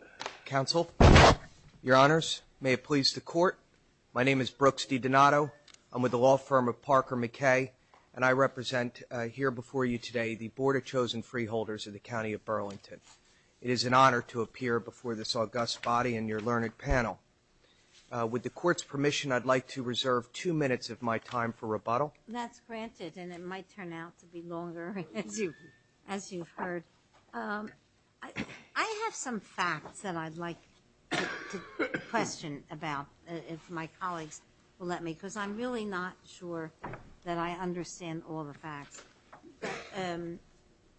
of the County of Burlington. It is an honor to appear before this august body and your learned panel. With the Court's permission, I'd like to reserve two minutes of my time for rebuttal. That's granted, and it might turn out to be longer, as you've heard. I have some facts that I'd like to question about, if my colleagues will let me, because I'm really not sure that I understand all the facts.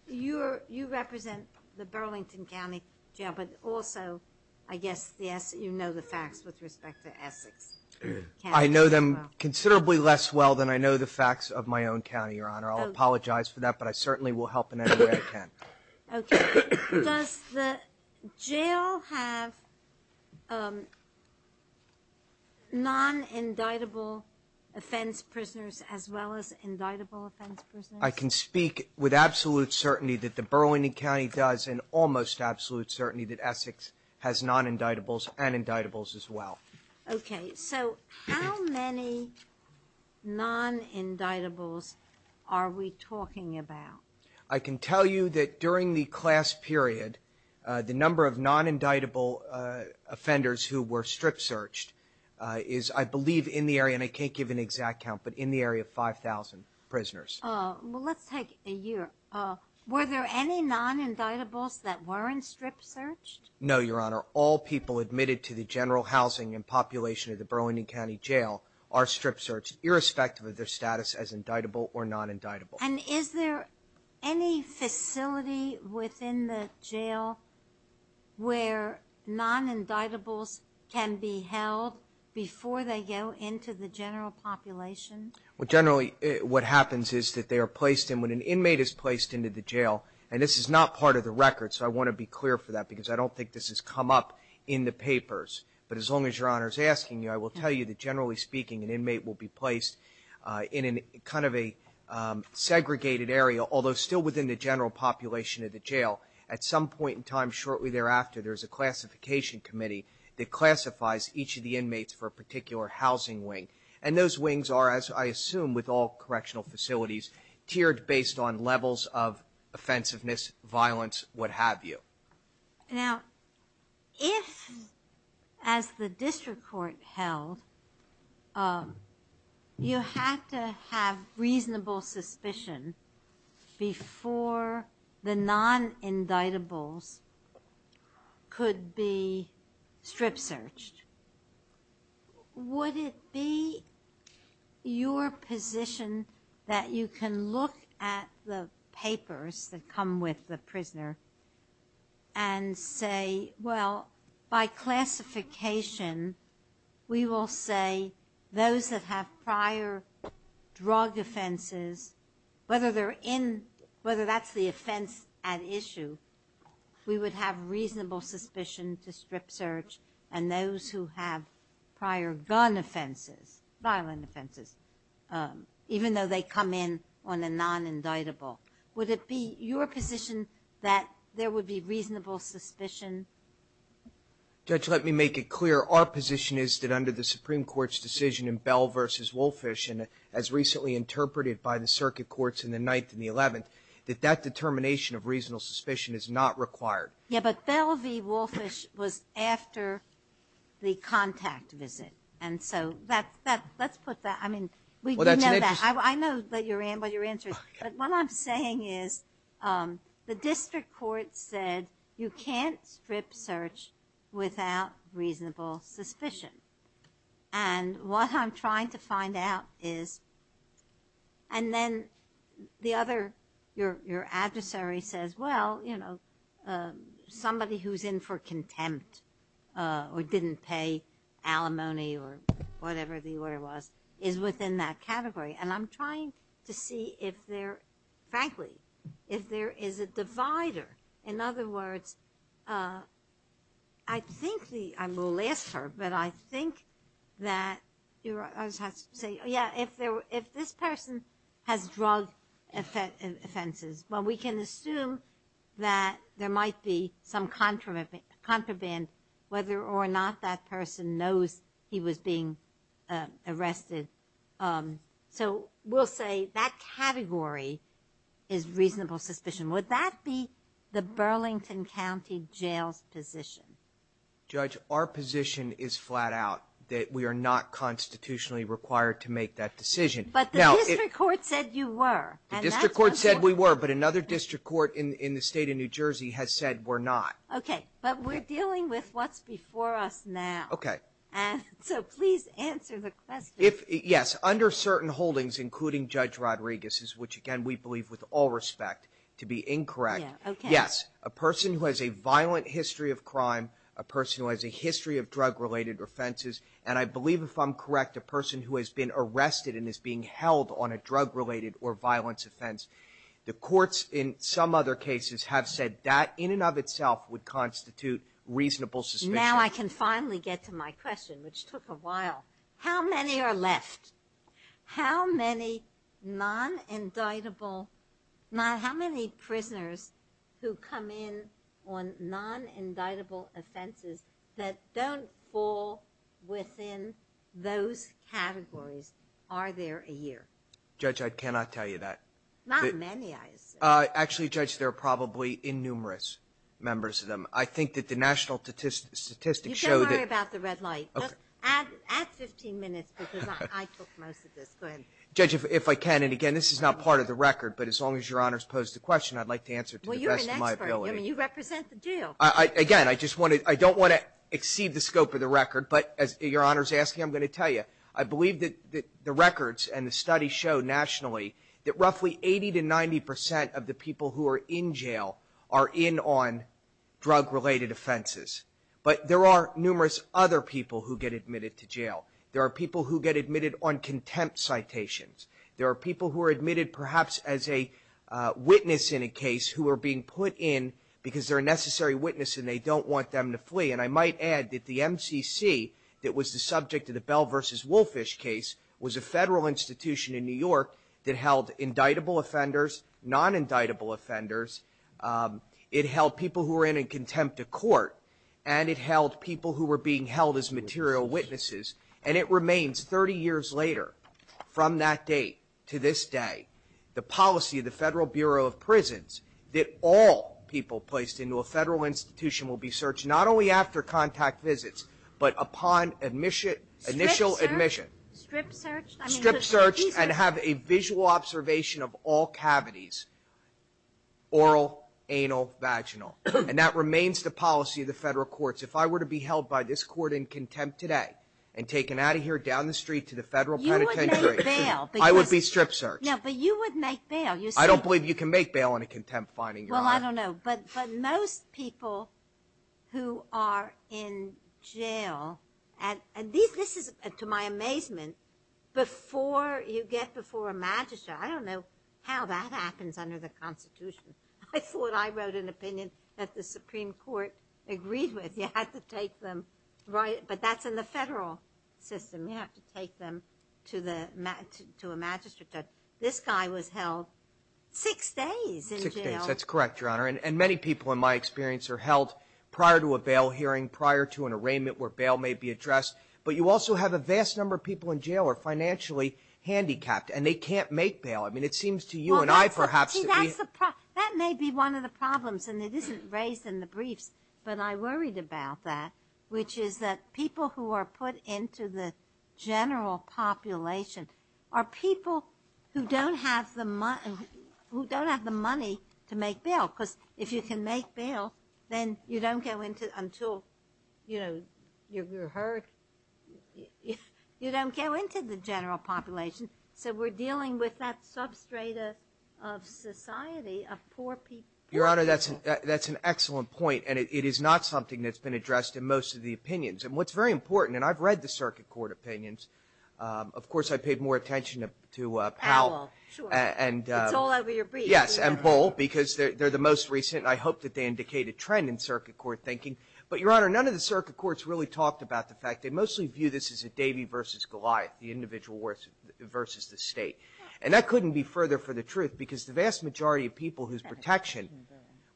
You represent the Burlington County Jail, but also, I guess, you know the facts with respect to Essex. I know them considerably less well than I know the facts of my own county, Your Honor. I'll apologize for that, but I certainly will help in any way I can. Does the jail have non-indictable offense prisoners as well as indictable offense prisoners? I can speak with absolute certainty that the Burlington County does, and almost absolute certainty that Essex has non-indictables and indictables as well. Okay, so how many non-indictables are we talking about? I can tell you that during the class period, the number of non-indictable offenders who were strip-searched is, I believe, in the area, and I can't give an exact count, but in the area of 5,000 prisoners. Well, let's take a year. Were there any non-indictables that weren't strip-searched? No, Your Honor. All people admitted to the general housing and population of the Burlington County Jail are strip-searched, irrespective of their status as indictable or non-indictable. And is there any facility within the jail where non-indictables can be held before they go into the general population? Well, generally, what happens is that they are placed in, when an inmate is placed into the jail, and this is not part of the record, so I want to be clear for that, because I don't think this has come up in the papers, but as long as Your Honor is asking, I will tell you that generally speaking, an inmate will be placed in a kind of a segregated area, although still within the general population of the jail. At some point in time, shortly thereafter, there is a classification committee that classifies each of the inmates for a particular housing wing, and those wings are, as I assume with all correctional facilities, tiered based on levels of offensiveness, violence, what have you. Now, if, as the district court held, you had to have reasonable suspicion before the non-indictables could be strip-searched, would it be your position that you can look at the papers that come with the prisoner and say, well, by classification, we will say those that have prior drug offenses, whether they're in, whether that's the offense at issue, we would have reasonable suspicion to strip-search, and those who have prior gun offenses, violent offenses, even though they come in on a non-indictable, would it be your position that there would be reasonable suspicion? Judge, let me make it clear. Our position is that under the Supreme Court's decision in Bell v. Wolfish, and as recently interpreted by the circuit courts in the 9th and the 11th, that that determination of reasonable suspicion is not required. Yeah, but Bell v. Wolfish was after the contact visit, and so let's put that. I mean, we do know that. I know what your answer is. But what I'm saying is the district court said you can't strip-search without reasonable suspicion, and what I'm trying to find out is, and then the other, your adversary says, well, you know, somebody who's in for contempt or didn't pay alimony or whatever the order of the jury, and I'm trying to see if there, frankly, if there is a divider. In other words, I think the, I'm going to ask her, but I think that, I just have to say, yeah, if this person has drug offenses, well, we can assume that there might be some So we'll say that category is reasonable suspicion. Would that be the Burlington County Jail's position? Judge, our position is flat out that we are not constitutionally required to make that decision. But the district court said you were. The district court said we were, but another district court in the state of New Jersey has said we're not. Okay, but we're dealing with what's before us now. Okay. And so please answer the question. If, yes, under certain holdings, including Judge Rodriguez's, which, again, we believe with all respect to be incorrect, yes, a person who has a violent history of crime, a person who has a history of drug-related offenses, and I believe, if I'm correct, a person who has been arrested and is being held on a drug-related or violence offense, the courts in some other cases have said that in and of itself would constitute reasonable suspicion. Now I can finally get to my question, which took a while. How many are left? How many non-indictable, how many prisoners who come in on non-indictable offenses that don't fall within those categories are there a year? Judge, I cannot tell you that. Not many, I assume. Actually, Judge, there are probably innumerous members of them. I think that the national statistics show that the red light. You can worry about the red light. Add 15 minutes, because I took most of this. Go ahead. Judge, if I can, and again, this is not part of the record, but as long as Your Honor has posed the question, I'd like to answer it to the best of my ability. Well, you're an expert. I mean, you represent the jail. Again, I just want to – I don't want to exceed the scope of the record, but as Your Honor is asking, I'm going to tell you. I believe that the records and the studies show nationally that roughly 80 to 90 percent of the people who are in jail are in on drug-related offenses. But there are numerous other people who get admitted to jail. There are people who get admitted on contempt citations. There are people who are admitted perhaps as a witness in a case who are being put in because they're a necessary witness and they don't want them to flee. And I might add that the MCC that was the subject of the Bell v. Wolfish case was a federal institution in New York that held indictable offenders, non-indictable offenders. It held people who were in a contempt of court, and it held people who were being held as material witnesses. And it remains, 30 years later, from that date to this day, the policy of the Federal Bureau of Prisons that all people placed into a federal institution will be searched not only after contact visits but upon initial admission. Strip searched? Strip searched and have a visual observation of all cavities, oral, anal, vaginal. And that remains the policy of the federal courts. If I were to be held by this court in contempt today and taken out of here down the street to the federal penitentiary, I would be strip searched. But you would make bail. I don't believe you can make bail on a contempt finding. Well, I don't know. But most people who are in jail, and this is to my amazement, before you get before a magistrate, I don't know how that happens under the Constitution. I thought I wrote an opinion that the Supreme Court agreed with. You have to take them, but that's in the federal system. You have to take them to a magistrate judge. This guy was held six days in jail. Six days, that's correct, Your Honor. And many people, in my experience, are held prior to a bail hearing, prior to an arraignment where bail may be addressed. But you also have a vast number of people in jail who are financially handicapped, and they can't make bail. I mean, it seems to you and I, perhaps, that we See, that's the problem. That may be one of the problems, and it isn't raised in the briefs. But I worried about that, which is that people who are put into the general population are people who don't have the money to make bail. Because if you can make bail, then you don't go into it until, you know, you're hurt. You don't go into the general population. So we're dealing with that substrate of society of poor people. Your Honor, that's an excellent point, and it is not something that's been addressed in most of the opinions. And what's very important, and I've read the circuit court opinions. Of course, I paid more attention to Powell. Powell, sure. It's all over your briefs. Yes, and Bull, because they're the most recent. I hope that they indicate a trend in circuit court thinking. But, Your Honor, none of the circuit courts really talked about the fact they mostly view this as a Davy versus Goliath, the individual versus the state. And that couldn't be further from the truth, because the vast majority of people whose protection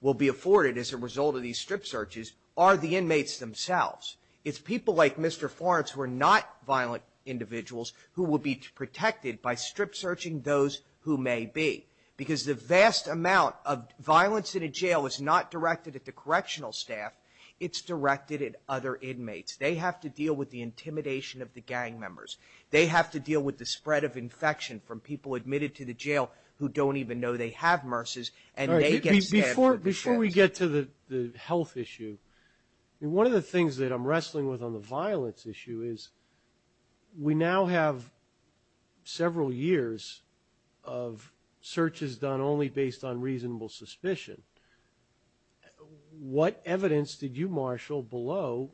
will be afforded as a result of these strip searches are the inmates themselves. It's people like Mr. Florence who are not violent individuals who will be protected by strip searching those who may be. Because the vast amount of violence in a jail is not directed at the correctional staff. It's directed at other inmates. They have to deal with the intimidation of the gang members. They have to deal with the spread of infection from people admitted to the jail who don't even know they have MRSAs, and they get stabbed. Before we get to the health issue, one of the things that I'm wrestling with on the violence issue is we now have several years of searches done only based on reasonable suspicion. What evidence did you marshal below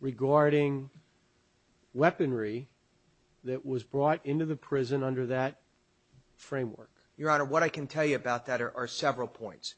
regarding weaponry that was brought into the prison under that framework? Your Honor, what I can tell you about that are several points.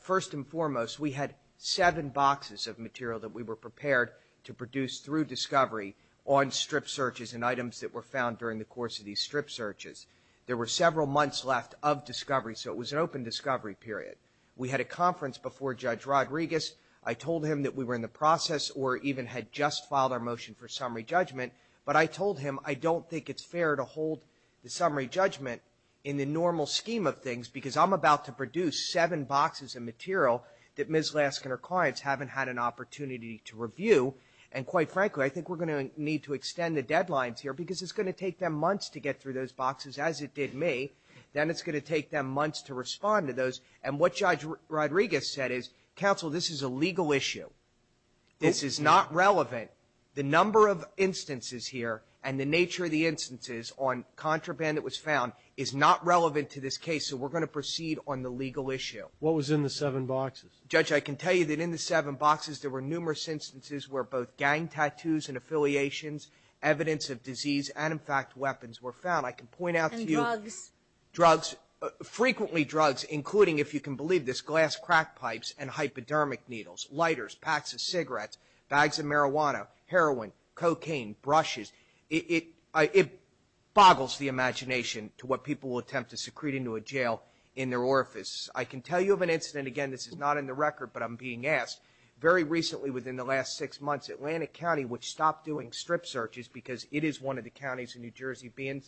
First and foremost, we had seven boxes of material that we were prepared to produce through discovery on strip searches and items that were found during the course of these strip searches. There were several months left of discovery, so it was an open discovery period. We had a conference before Judge Rodriguez. I told him that we were in the process or even had just filed our motion for summary judgment, but I told him I don't think it's fair to hold the summary judgment in the normal scheme of things because I'm about to produce seven boxes of material that Ms. Lask and her clients haven't had an opportunity to review. And quite frankly, I think we're going to need to extend the deadlines here because it's going to take them months to get through those boxes, as it did me. Then it's going to take them months to respond to those. And what Judge Rodriguez said is, Counsel, this is a legal issue. This is not relevant. The number of instances here and the nature of the instances on contraband that was found is not relevant to this case, so we're going to proceed on the legal issue. What was in the seven boxes? Judge, I can tell you that in the seven boxes there were numerous instances where both gang tattoos and affiliations, evidence of disease, and, in fact, weapons were found. I can point out to you. And drugs. Drugs. Frequently drugs, including, if you can believe this, glass crack pipes and hypodermic needles, lighters, packs of cigarettes, bags of marijuana, heroin, cocaine, brushes. It boggles the imagination to what people will attempt to secrete into a jail in their orifices. I can tell you of an incident. Again, this is not in the record, but I'm being asked. Very recently, within the last six months, Atlantic County, which stopped doing strip searches because it is one of the counties in New Jersey being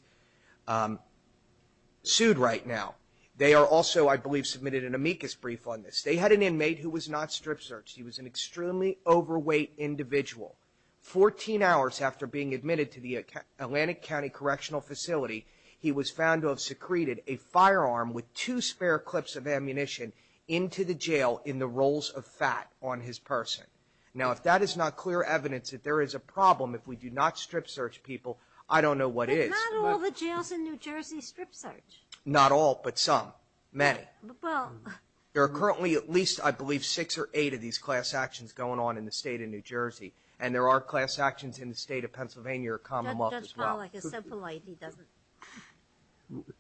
sued right now. They are also, I believe, submitted an amicus brief on this. They had an inmate who was not strip searched. He was an extremely overweight individual. Fourteen hours after being admitted to the Atlantic County Correctional Facility, he was found to have secreted a firearm with two spare clips of ammunition into the jail in the rolls of fat on his person. Now, if that is not clear evidence that there is a problem if we do not strip search people, I don't know what is. But not all the jails in New Jersey strip search. Not all, but some. Many. Well. There are currently at least, I believe, six or eight of these class actions going on in the state of New Jersey. And there are class actions in the state of Pennsylvania or Commonwealth as well. That's probably a simple idea, doesn't it?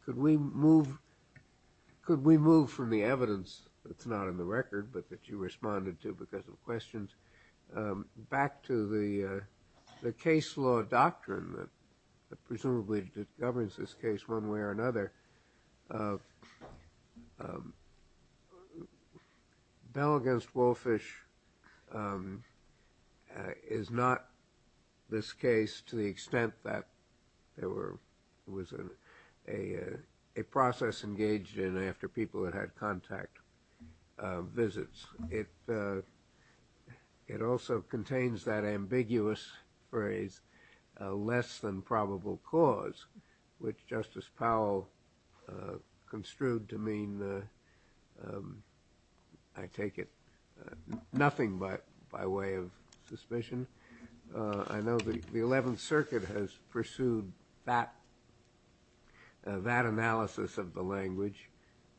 Could we move from the evidence that's not in the record, but that you responded to because of questions, back to the case law doctrine that presumably governs this case one way or another? No. Bell v. Walfish is not this case to the extent that there was a process engaged in after people had had contact visits. It also contains that ambiguous phrase, less than probable cause, which Justice Powell construed to mean, I take it, nothing by way of suspicion. I know the Eleventh Circuit has pursued that analysis of the language.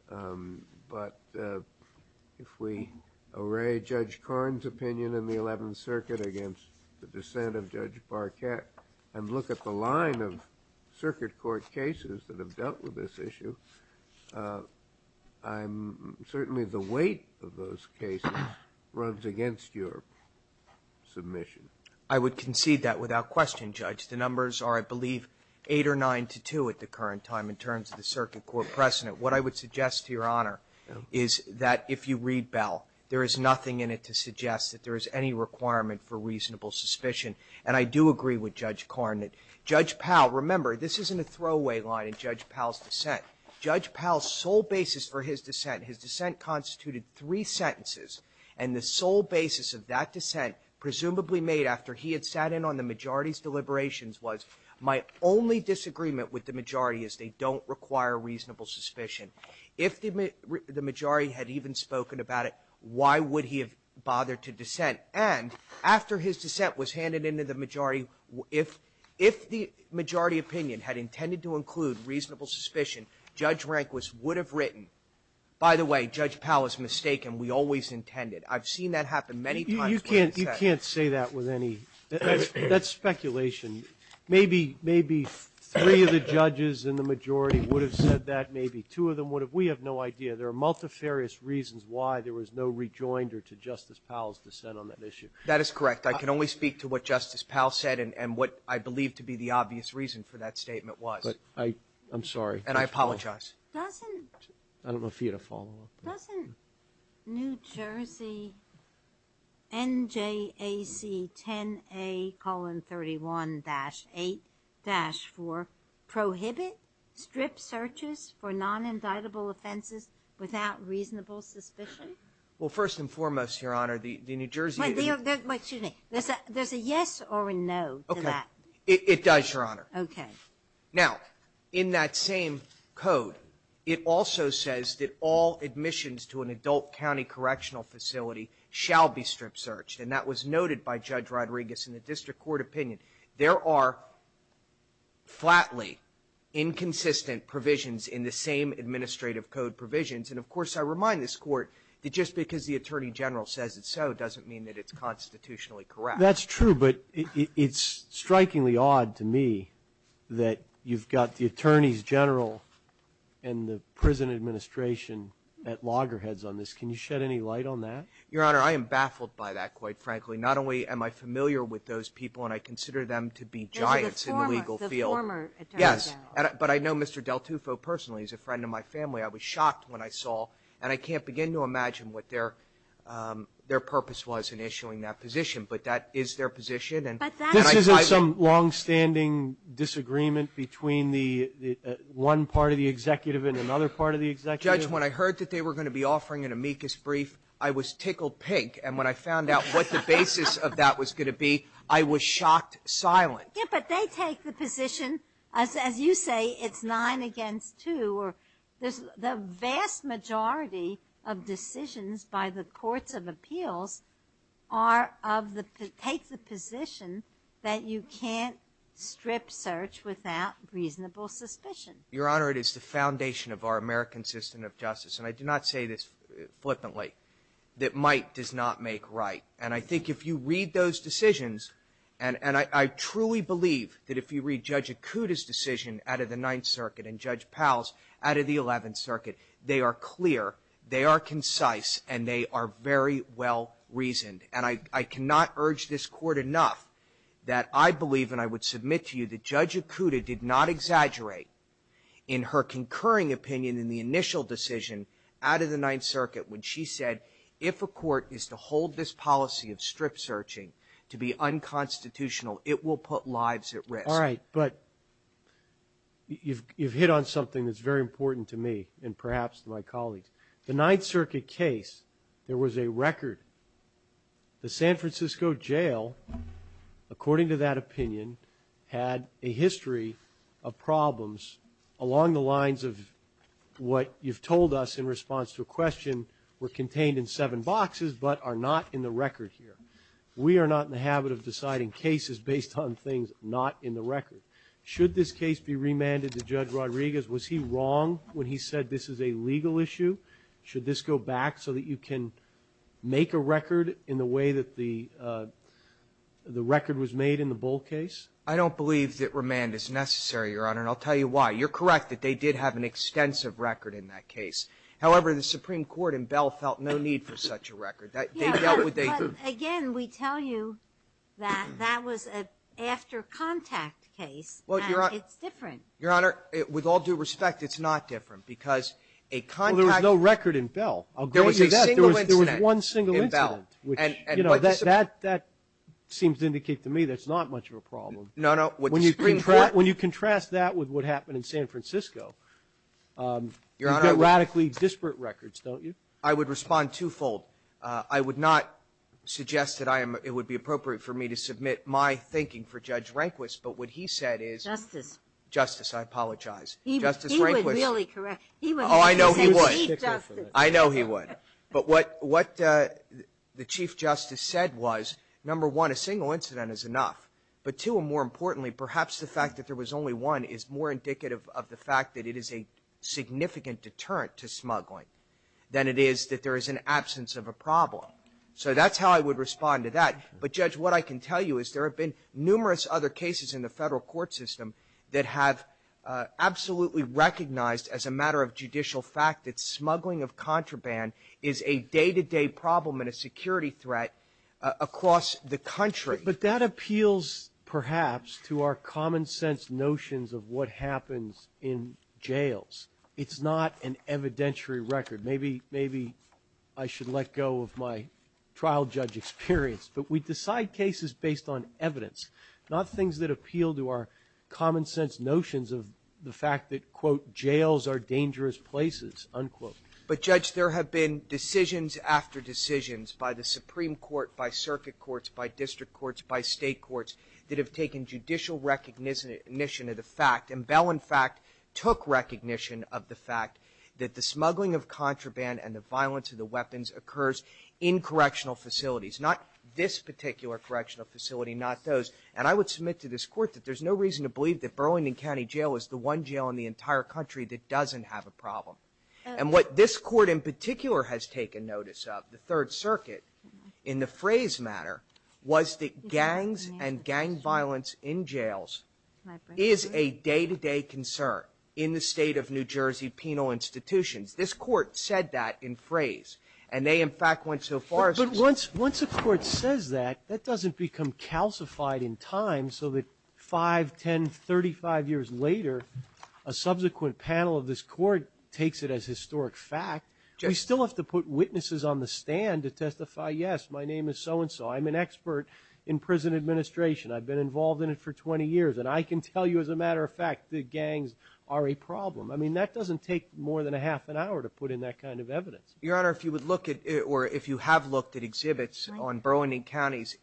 But if we array Judge Korn's opinion in the Eleventh Circuit against the dissent of Judge Parkett and look at the line of circuit court cases that have dealt with this issue, certainly the weight of those cases runs against your submission. I would concede that without question, Judge. The numbers are, I believe, 8 or 9 to 2 at the current time in terms of the circuit court precedent. What I would suggest to Your Honor is that if you read Bell, there is nothing in it to suggest that there is any requirement for reasonable suspicion. And I do agree with Judge Korn that Judge Powell, remember, this isn't a throwaway line in Judge Powell's dissent. Judge Powell's sole basis for his dissent, his dissent constituted three sentences, and the sole basis of that dissent, presumably made after he had sat in on the majority's deliberations, was my only disagreement with the majority is they don't require reasonable suspicion. If the majority had even spoken about it, why would he have bothered to dissent? And after his dissent was handed in to the majority, if the majority opinion had intended to include reasonable suspicion, Judge Rehnquist would have written, by the way, Judge Powell is mistaken. We always intended. I've seen that happen many times. Sotomayor You can't say that with any – that's speculation. Maybe three of the judges in the majority would have said that, maybe two of them would have. We have no idea. There are multifarious reasons why there was no rejoinder to Justice Powell's dissent on that issue. That is correct. I can only speak to what Justice Powell said and what I believe to be the obvious reason for that statement was. But I'm sorry. And I apologize. Doesn't – I don't know if you had a follow-up. Doesn't New Jersey NJAC 10A colon 31-8-4 prohibit strip searches for non-indictable offenses without reasonable suspicion? Well, first and foremost, Your Honor, the New Jersey – Excuse me. There's a yes or a no to that. Okay. It does, Your Honor. Okay. Now, in that same code, it also says that all admissions to an adult county correctional facility shall be strip searched. And that was noted by Judge Rodriguez in the district court opinion. There are flatly inconsistent provisions in the same administrative code provisions. And, of course, I remind this Court that just because the Attorney General says it so doesn't mean that it's constitutionally correct. That's true, but it's strikingly odd to me that you've got the Attorneys General and the prison administration at loggerheads on this. Can you shed any light on that? Your Honor, I am baffled by that, quite frankly. Not only am I familiar with those people, and I consider them to be giants in the legal field. Those are the former – the former Attorneys General. Yes. But I know Mr. DelTufo personally. He's a friend of my family. I was shocked when I saw – and I can't begin to imagine what their purpose was in issuing that position, but that is their position. But that's – This isn't some longstanding disagreement between the – one part of the executive and another part of the executive. Judge, when I heard that they were going to be offering an amicus brief, I was tickled pink. And when I found out what the basis of that was going to be, I was shocked silent. Yes, but they take the position, as you say, it's nine against two. The vast majority of decisions by the courts of appeals are of the – take the position that you can't strip search without reasonable suspicion. Your Honor, it is the foundation of our American system of justice, and I do not say this flippantly, that might does not make right. And I think if you read those decisions – and I truly believe that if you read Judge Acuda's decision out of the Ninth Circuit and Judge Powell's out of the Eleventh Circuit, they are clear, they are concise, and they are very well reasoned. And I cannot urge this Court enough that I believe, and I would submit to you, that Judge Acuda did not exaggerate in her concurring opinion in the initial decision out of the Ninth Circuit when she said if a court is to hold this policy of strip searching to be unconstitutional, it will put lives at risk. All right, but you've hit on something that's very important to me and perhaps to my colleagues. The Ninth Circuit case, there was a record – the San Francisco jail, according to that opinion, had a history of problems along the lines of what you've told us in response to a question were contained in seven boxes but are not in the record here. And we are not in the habit of deciding cases based on things not in the record. Should this case be remanded to Judge Rodriguez? Was he wrong when he said this is a legal issue? Should this go back so that you can make a record in the way that the record was made in the Bull case? I don't believe that remand is necessary, Your Honor, and I'll tell you why. You're correct that they did have an extensive record in that case. However, the Supreme Court and Bell felt no need for such a record. They dealt with a – But, again, we tell you that that was an after-contact case, and it's different. Your Honor, with all due respect, it's not different, because a contact – Well, there was no record in Bell. I'll grant you that. There was a single incident in Bell. There was one single incident, which, you know, that seems to indicate to me that's not much of a problem. No, no. When you contrast that with what happened in San Francisco, you've got radically disparate records, don't you? I would respond twofold. I would not suggest that I am – it would be appropriate for me to submit my thinking for Judge Rehnquist, but what he said is – Justice. Justice. I apologize. Justice Rehnquist – He would really correct – he would really say, Chief Justice – Oh, I know he would. I know he would. But what – what the Chief Justice said was, number one, a single incident is enough, but, two, and more importantly, perhaps the fact that there was only one is more than it is that there is an absence of a problem. So that's how I would respond to that. But, Judge, what I can tell you is there have been numerous other cases in the Federal Court system that have absolutely recognized as a matter of judicial fact that smuggling of contraband is a day-to-day problem and a security threat across the country. But that appeals, perhaps, to our common-sense notions of what happens in jails. It's not an evidentiary record. Maybe – maybe I should let go of my trial judge experience. But we decide cases based on evidence, not things that appeal to our common-sense notions of the fact that, quote, jails are dangerous places, unquote. But, Judge, there have been decisions after decisions by the Supreme Court, by circuit courts, by district courts, by state courts that have taken judicial recognition of the fact, and Bell, in fact, took recognition of the fact that the smuggling of contraband and the violence of the weapons occurs in correctional facilities, not this particular correctional facility, not those. And I would submit to this Court that there's no reason to believe that Burlington County Jail is the one jail in the entire country that doesn't have a problem. And what this Court in particular has taken notice of, the Third Circuit, in the phrase matter, was that gangs and gang violence in jails is a day-to-day concern in the state of New Jersey penal institutions. This Court said that in phrase. And they, in fact, went so far as to say – But once a court says that, that doesn't become calcified in time so that five, 10, 35 years later, a subsequent panel of this Court takes it as historic fact. Judge. We still have to put witnesses on the stand to testify, yes, my name is so-and-so. I'm an expert in prison administration. I've been involved in it for 20 years. And I can tell you, as a matter of fact, that gangs are a problem. I mean, that doesn't take more than a half an hour to put in that kind of evidence. Your Honor, if you would look at – or if you have looked at exhibits on Burlington County's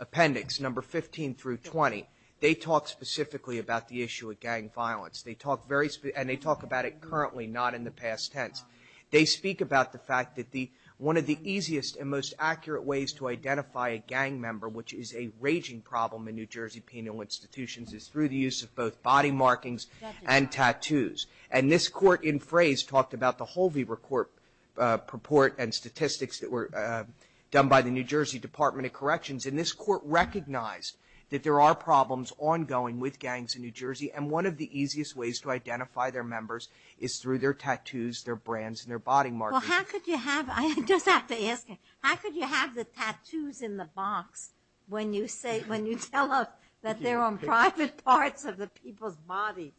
appendix, number 15 through 20, they talk specifically about the issue of gang violence. They talk very – and they talk about it currently, not in the past tense. They speak about the fact that the – one of the easiest and most accurate ways to identify a gang member, which is a raging problem in New Jersey penal institutions, is through the use of both body markings and tattoos. And this Court, in phrase, talked about the Holvey report and statistics that were done by the New Jersey Department of Corrections. And this Court recognized that there are problems ongoing with gangs in New Jersey. And one of the easiest ways to identify their members is through their tattoos, their brands, and their body markings. Well, how could you have – I just have to ask you, how could you have the tattoos in the box when you say – when you tell us that they're on private parts of the people's bodies?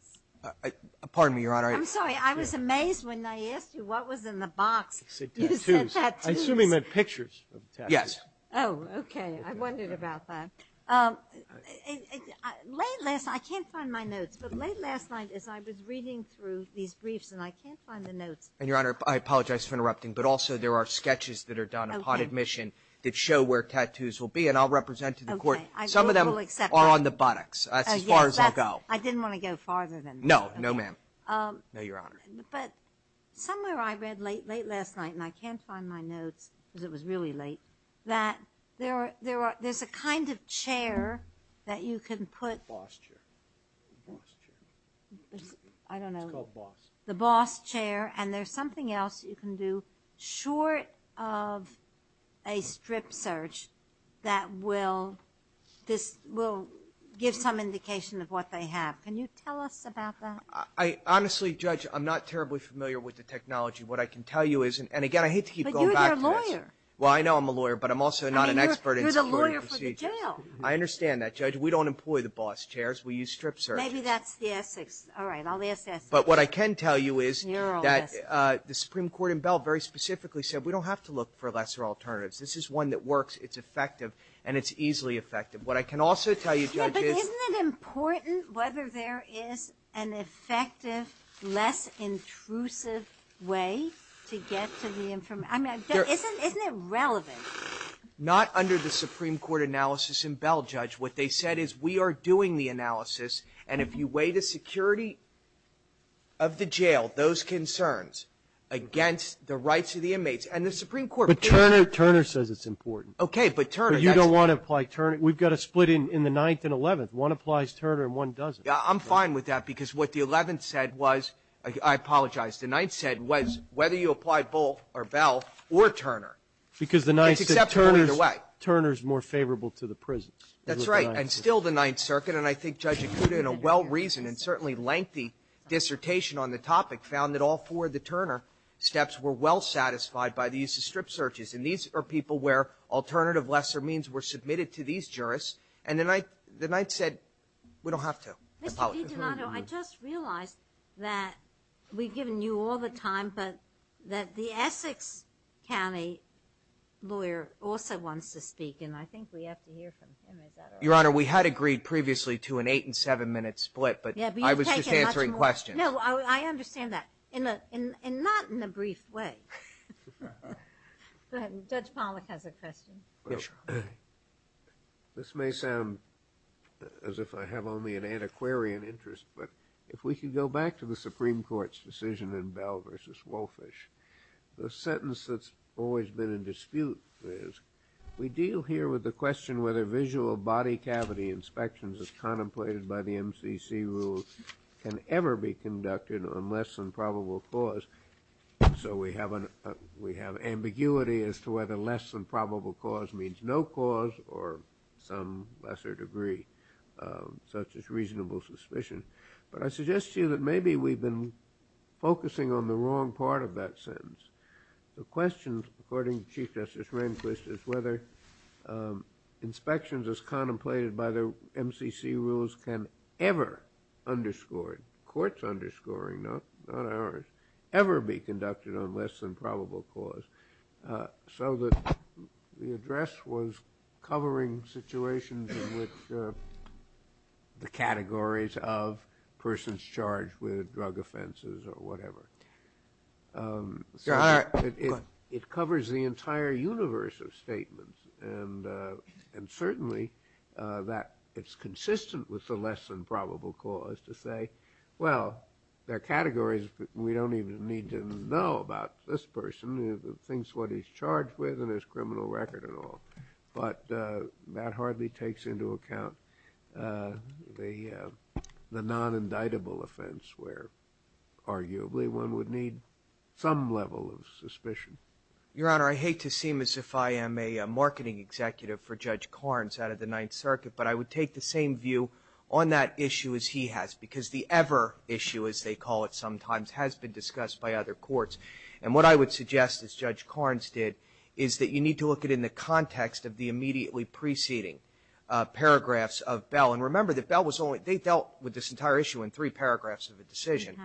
Pardon me, Your Honor. I'm sorry. I was amazed when I asked you what was in the box. I said tattoos. You said tattoos. I'm assuming they're pictures of tattoos. Yes. Oh, okay. I wondered about that. Late last – I can't find my notes, but late last night as I was reading through these briefs, and I can't find the notes. And, Your Honor, I apologize for interrupting, but also there are sketches that are done upon admission that show where tattoos will be, and I'll represent to the Court. I will accept that. Some of them are on the buttocks. That's as far as I'll go. Oh, yes. I didn't want to go farther than that. No. No, ma'am. No, Your Honor. But somewhere I read late, late last night, and I can't find my notes because it was really late, that there are – there's a kind of chair that you can put – Boss chair. Boss chair. I don't know. It's called boss. The boss chair, and there's something else you can do short of a strip search that will – this will give some indication of what they have. Can you tell us about that? I – honestly, Judge, I'm not terribly familiar with the technology. What I can tell you is – and, again, I hate to keep going back to this. But you're their lawyer. Well, I know I'm a lawyer, but I'm also not an expert in security procedures. I mean, you're the lawyer for the jail. I understand that, Judge. We don't employ the boss chairs. We use strip searches. Maybe that's the Essex. All right. I'll ask Essex. But what I can tell you is – You're all Essex. – that the Supreme Court in Bell very specifically said we don't have to look for lesser alternatives. This is one that works, it's effective, and it's easily effective. What I can also tell you, Judge, is – Yeah, but isn't it important whether there is an effective, less intrusive way to get to the – I mean, isn't it relevant? Not under the Supreme Court analysis in Bell, Judge. What they said is we are doing the analysis, and if you weigh the security of the jail, those concerns, against the rights of the inmates, and the Supreme Court – But Turner says it's important. Okay, but Turner – But you don't want to apply Turner. We've got a split in the Ninth and Eleventh. One applies Turner and one doesn't. I'm fine with that, because what the Eleventh said was – I apologize. The Ninth said was whether you apply Bull or Bell or Turner. Because the Ninth said Turner's more favorable to the prisons. That's right. And still the Ninth Circuit, and I think Judge Akuta, in a well-reasoned and certainly lengthy dissertation on the topic, found that all four of the Turner steps were well satisfied by the use of strip searches. And these are people where alternative lesser means were submitted to these jurists. And the Ninth said we don't have to. I apologize. Mr. DiGiornano, I just realized that we've given you all the time, but that the Essex County lawyer also wants to speak, and I think we have to hear from him. Is that all right? Your Honor, we had agreed previously to an eight-and-seven-minute split. But I was just answering questions. No, I understand that. And not in a brief way. Go ahead. Judge Pollack has a question. This may sound as if I have only an antiquarian interest, but if we can go back to the Supreme Justice that's always been in dispute, we deal here with the question whether visual body cavity inspections as contemplated by the MCC rule can ever be conducted on less than probable cause. So we have ambiguity as to whether less than probable cause means no cause or some lesser degree, such as reasonable suspicion. But I suggest to you that maybe we've been focusing on the wrong part of that sentence. The question, according to Chief Justice Rehnquist, is whether inspections as contemplated by the MCC rules can ever, underscored, courts underscoring, not ours, ever be conducted on less than probable cause. So the address was covering situations in which the categories of persons charged with drug offenses or whatever. So it covers the entire universe of statements. And certainly that it's consistent with the less than probable cause to say, well, there nothing's what he's charged with and there's criminal record and all. But that hardly takes into account the non-indictable offense where arguably one would need some level of suspicion. Your Honor, I hate to seem as if I am a marketing executive for Judge Carnes out of the Ninth Circuit, but I would take the same view on that issue as he has, because the ever issue, as they call it sometimes, has been discussed by other courts. And what I would suggest, as Judge Carnes did, is that you need to look at it in the context of the immediately preceding paragraphs of Bell. And remember that Bell was only they dealt with this entire issue in three paragraphs of a decision.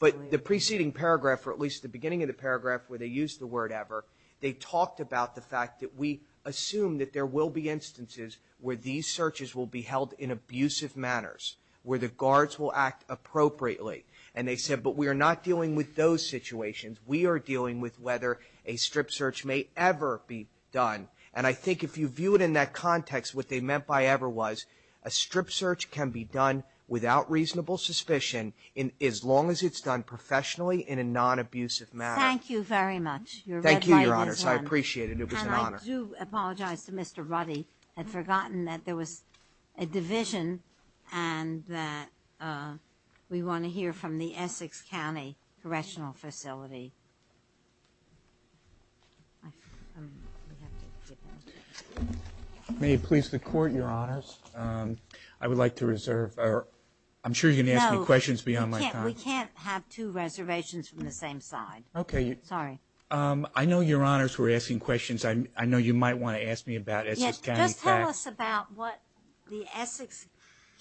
But the preceding paragraph, or at least the beginning of the paragraph where they used the word ever, they talked about the fact that we assume that there will be instances where these searches will be held in abusive manners, where the guards will act appropriately. And they said, but we are not dealing with those situations. We are dealing with whether a strip search may ever be done. And I think if you view it in that context, what they meant by ever was a strip search can be done without reasonable suspicion as long as it's done professionally in a non-abusive manner. Thank you very much. Thank you, Your Honor. I appreciate it. It was an honor. I do apologize to Mr. Ruddy. I had forgotten that there was a division and that we want to hear from the Essex County Correctional Facility. May it please the Court, Your Honors. I would like to reserve. I'm sure you're going to ask me questions beyond my time. No. We can't have two reservations from the same side. Okay. Sorry. I know, Your Honors, we're asking questions. I know you might want to ask me about Essex County. Just tell us about what the Essex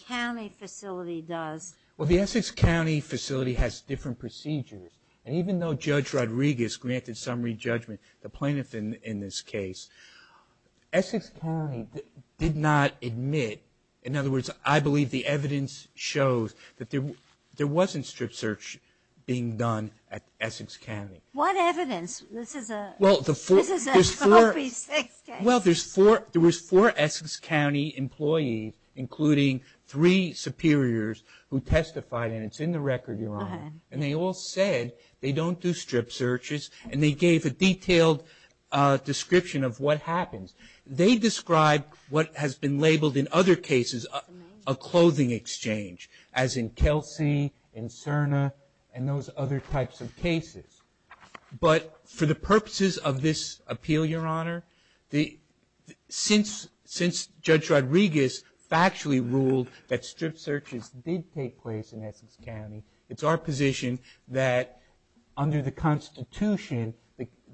County Facility does. Well, the Essex County Facility has different procedures. And even though Judge Rodriguez granted summary judgment, the plaintiff in this case, Essex County did not admit. In other words, I believe the evidence shows that there wasn't strip search being done at Essex County. What evidence? This is an OP6 case. Well, there was four Essex County employees, including three superiors, who testified. And it's in the record, Your Honor. And they all said they don't do strip searches. And they gave a detailed description of what happens. They described what has been labeled in other cases a clothing exchange, as in But for the purposes of this appeal, Your Honor, since Judge Rodriguez factually ruled that strip searches did take place in Essex County, it's our position that under the Constitution,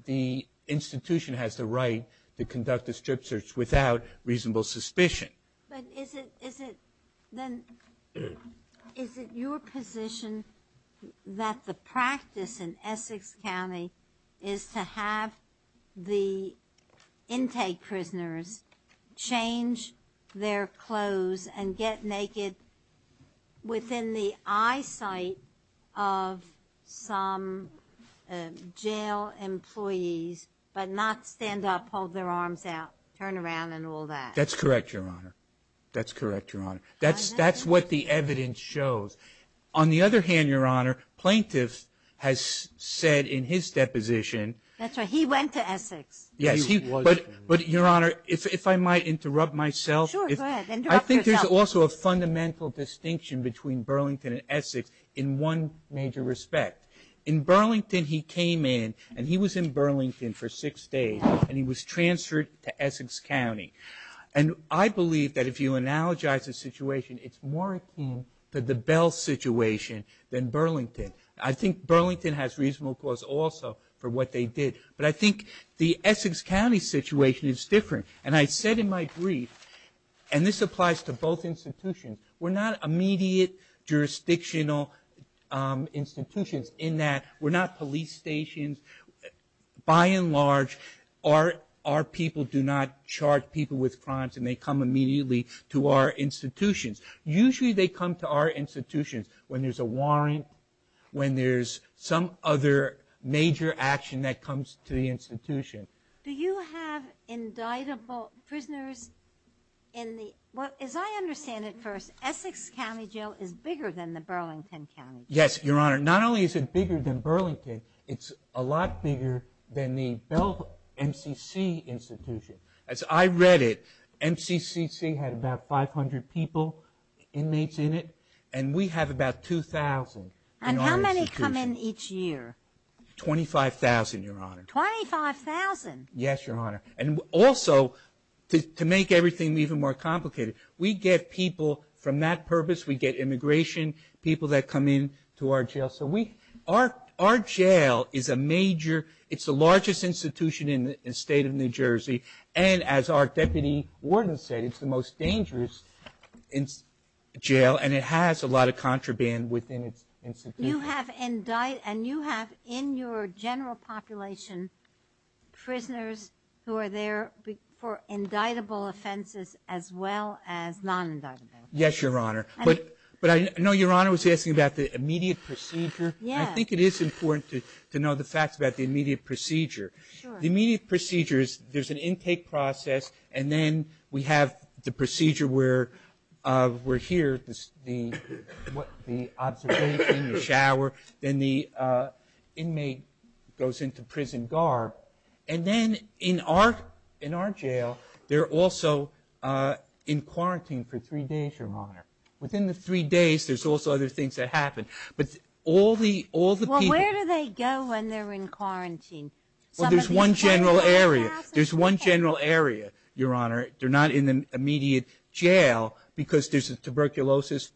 the institution has the right to conduct a strip search without reasonable suspicion. But is it your position that the practice in Essex County is to have the intake prisoners change their clothes and get naked within the eyesight of some jail employees, but not stand up, hold their arms out, turn around, and all that? That's correct, Your Honor. That's correct, Your Honor. That's what the evidence shows. On the other hand, Your Honor, plaintiff has said in his deposition That's right. He went to Essex. Yes. But, Your Honor, if I might interrupt myself. Sure. Go ahead. Interrupt yourself. I think there's also a fundamental distinction between Burlington and Essex in one major respect. In Burlington, he came in, and he was in Burlington for six days, and he was And I believe that if you analogize the situation, it's more akin to the Bell situation than Burlington. I think Burlington has reasonable cause also for what they did, but I think the Essex County situation is different. And I said in my brief, and this applies to both institutions, we're not immediate jurisdictional institutions in that we're not police stations. By and large, our people do not charge people with crimes, and they come immediately to our institutions. Usually they come to our institutions when there's a warrant, when there's some other major action that comes to the institution. Do you have indictable prisoners in the – as I understand it first, Essex County Jail is bigger than the Burlington County Jail. Yes, Your Honor. Not only is it bigger than Burlington, it's a lot bigger than the Bell MCC institution. As I read it, MCCC had about 500 people, inmates in it, and we have about 2,000 in our institution. And how many come in each year? 25,000, Your Honor. 25,000? Yes, Your Honor. And also, to make everything even more complicated, we get people from that Our jail is a major – it's the largest institution in the State of New Jersey, and as our deputy warden said, it's the most dangerous jail, and it has a lot of contraband within its institutions. You have – and you have in your general population prisoners who are there for indictable offenses as well as non-indictable. Yes, Your Honor. But I know Your Honor was asking about the immediate procedure. Yes. I think it is important to know the facts about the immediate procedure. Sure. The immediate procedure is there's an intake process, and then we have the procedure where we're here, the observation, the shower, then the inmate goes into prison garb. And then in our jail, they're also in quarantine for three days, Your Honor. Within the three days, there's also other things that happen. But all the people – Well, where do they go when they're in quarantine? Well, there's one general area. There's one general area, Your Honor. They're not in the immediate jail because there's a tuberculosis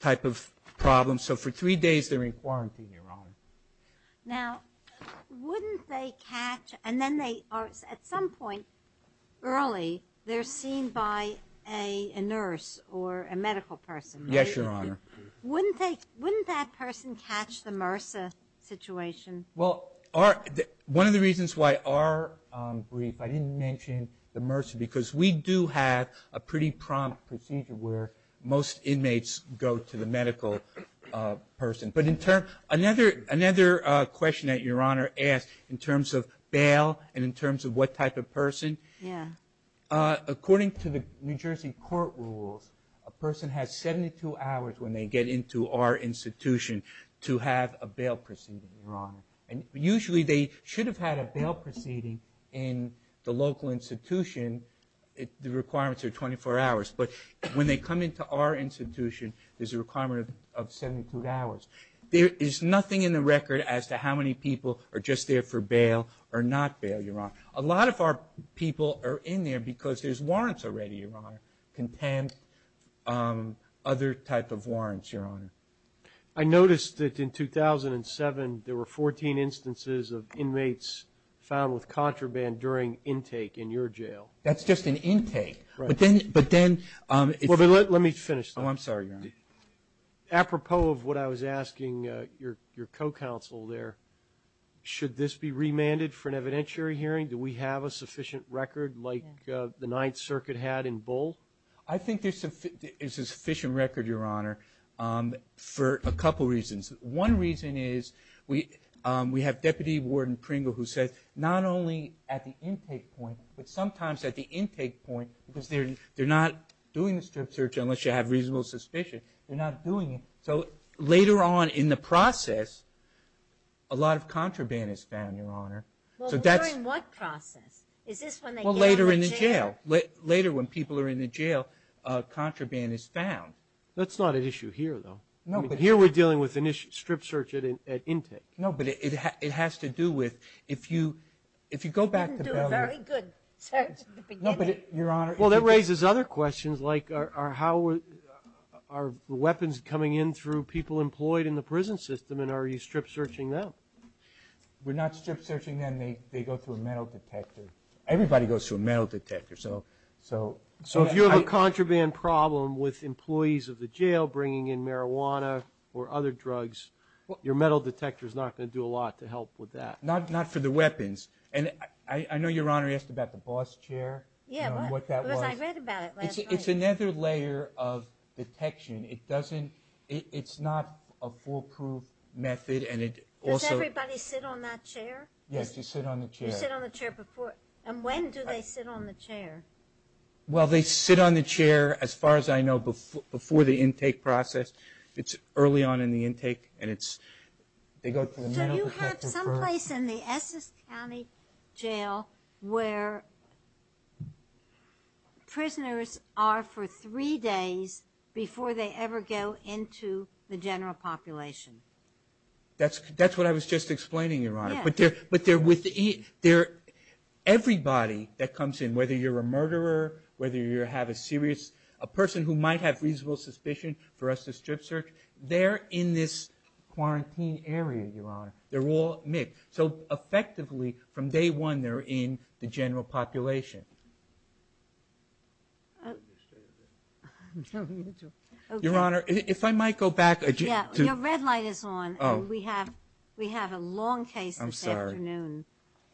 type of problem. So for three days, they're in quarantine, Your Honor. Now, wouldn't they catch – and then they are – at some point early, they're seen by a nurse or a medical person, right? Yes, Your Honor. Wouldn't that person catch the MRSA situation? Well, one of the reasons why our brief – I didn't mention the MRSA because we do have a pretty prompt procedure where most inmates go to the medical person. But in terms – another question that Your Honor asked in terms of bail and in terms of what type of person, according to the New Jersey court rules, a person has 72 hours when they get into our institution to have a bail proceeding, Your Honor. And usually, they should have had a bail proceeding in the local institution. The requirements are 24 hours. But when they come into our institution, there's a requirement of 72 hours. There is nothing in the record as to how many people are just there for bail or not bail, Your Honor. A lot of our people are in there because there's warrants already, Your Honor, contempt, other type of warrants, Your Honor. I noticed that in 2007, there were 14 instances of inmates found with contraband during intake in your jail. That's just an intake. Right. But then – Let me finish though. Oh, I'm sorry, Your Honor. Apropos of what I was asking your co-counsel there, should this be remanded for an evidentiary hearing? Do we have a sufficient record like the Ninth Circuit had in Bull? I think there's a sufficient record, Your Honor, for a couple reasons. One reason is we have Deputy Warden Pringle who said not only at the intake point but sometimes at the intake point because they're not doing the strip search unless you have reasonable suspicion. They're not doing it. So later on in the process, a lot of contraband is found, Your Honor. Well, during what process? Is this when they get out of the jail? Well, later in the jail. Later when people are in the jail, contraband is found. That's not an issue here though. No, but – Here we're dealing with strip search at intake. No, but it has to do with if you go back to – You didn't do a very good search at the beginning. Well, that raises other questions like are weapons coming in through people employed in the prison system and are you strip searching them? We're not strip searching them. They go through a metal detector. Everybody goes through a metal detector. So if you have a contraband problem with employees of the jail bringing in marijuana or other drugs, your metal detector is not going to do a lot to help with that. Not for the weapons. And I know Your Honor asked about the boss chair and what that was. Yeah, because I read about it last night. It's another layer of detection. It doesn't – it's not a foolproof method and it also – Does everybody sit on that chair? Yes, you sit on the chair. You sit on the chair before – and when do they sit on the chair? Well, they sit on the chair, as far as I know, before the intake process. It's early on in the intake and it's – they go to the metal detector for – where prisoners are for three days before they ever go into the general population. That's what I was just explaining, Your Honor. Yeah. But they're – everybody that comes in, whether you're a murderer, whether you have a serious – a person who might have reasonable suspicion for us to strip search, they're in this quarantine area, Your Honor. They're all mixed. So effectively, from day one, they're in the general population. Your Honor, if I might go back – Yeah, your red light is on. Oh. We have a long case this afternoon.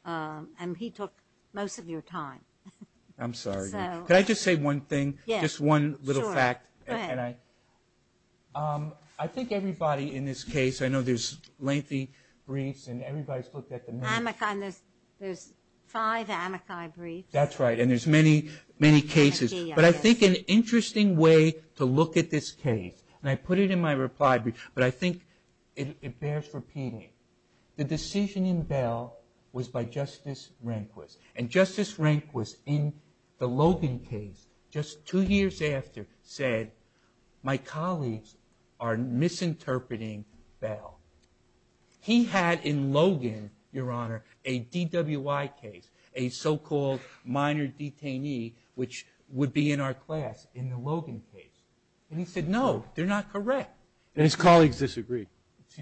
I'm sorry. And he took most of your time. I'm sorry. So – Can I just say one thing? Yes. Just one little fact. Sure. Go ahead. I think everybody in this case – I know there's lengthy briefs and everybody's looked at them. There's five amici briefs. That's right. And there's many, many cases. But I think an interesting way to look at this case, and I put it in my reply brief, but I think it bears repeating. The decision in Bell was by Justice Rehnquist. And Justice Rehnquist, in the Logan case, just two years after, said, my colleagues are misinterpreting Bell. He had in Logan, Your Honor, a DWI case, a so-called minor detainee, which would be in our class in the Logan case. And he said, no, they're not correct. And his colleagues disagreed.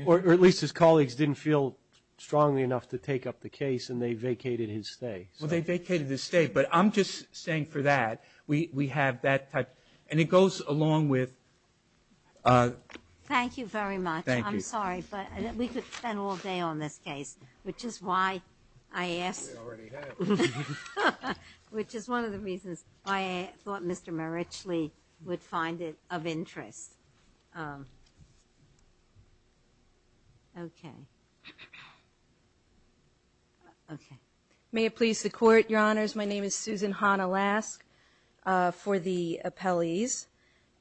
Or at least his colleagues didn't feel strongly enough to take up the case, and they vacated his stay. Well, they vacated his stay, but I'm just saying for that, we have that type. And it goes along with – Thank you very much. Thank you. I'm sorry, but we could spend all day on this case, which is why I asked. We already have. Which is one of the reasons why I thought Mr. Marichle would find it of interest. Okay. Okay. May it please the Court, Your Honors, my name is Susan Hanna-Lask for the appellees.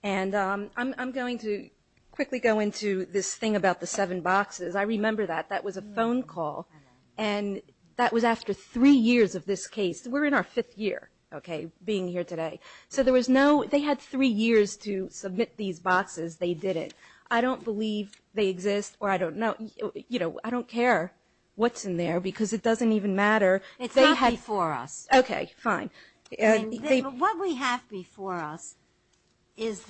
And I'm going to quickly go into this thing about the seven boxes. I remember that. That was a phone call, and that was after three years of this case. We're in our fifth year, okay, being here today. So there was no – they had three years to submit these boxes. They didn't. I don't believe they exist, or I don't know. You know, I don't care what's in there because it doesn't even matter. It's not before us. Okay, fine. What we have before us is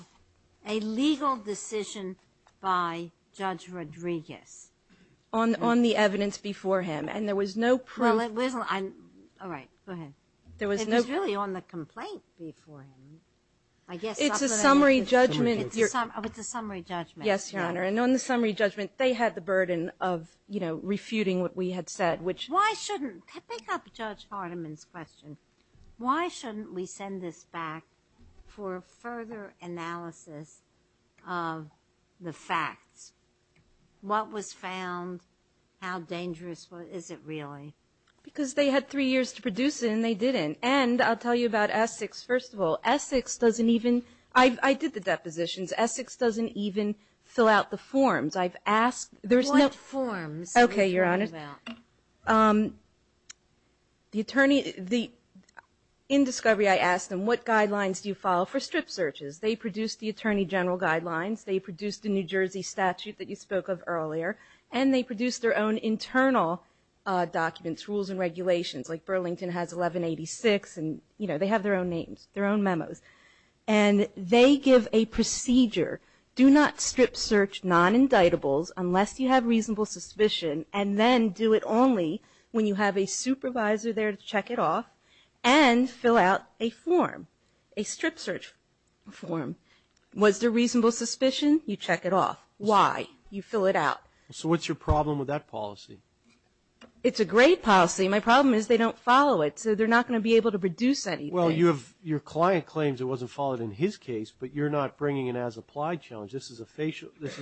a legal decision by Judge Rodriguez. On the evidence before him. And there was no proof. Well, it wasn't – all right, go ahead. It was really on the complaint before him. It's a summary judgment. Oh, it's a summary judgment. Yes, Your Honor, and on the summary judgment, they had the burden of, you know, refuting what we had said, which – Why shouldn't – pick up Judge Hardiman's question. Why shouldn't we send this back for further analysis of the facts? What was found? How dangerous is it really? Because they had three years to produce it, and they didn't. And I'll tell you about Essex. First of all, Essex doesn't even – I did the depositions. Essex doesn't even fill out the forms. I've asked – there's no – What forms are we talking about? Okay, Your Honor. The attorney – in discovery, I asked them, what guidelines do you follow for strip searches? They produced the attorney general guidelines. They produced the New Jersey statute that you spoke of earlier, and they produced their own internal documents, rules and regulations. Like Burlington has 1186, and, you know, they have their own names, their own memos. And they give a procedure. Do not strip search non-indictables unless you have reasonable suspicion, and then do it only when you have a supervisor there to check it off and fill out a form, a strip search form. Was there reasonable suspicion? You check it off. Why? You fill it out. So what's your problem with that policy? It's a great policy. My problem is they don't follow it, so they're not going to be able to produce anything. Well, your client claims it wasn't followed in his case, but you're not bringing an as-applied challenge. This is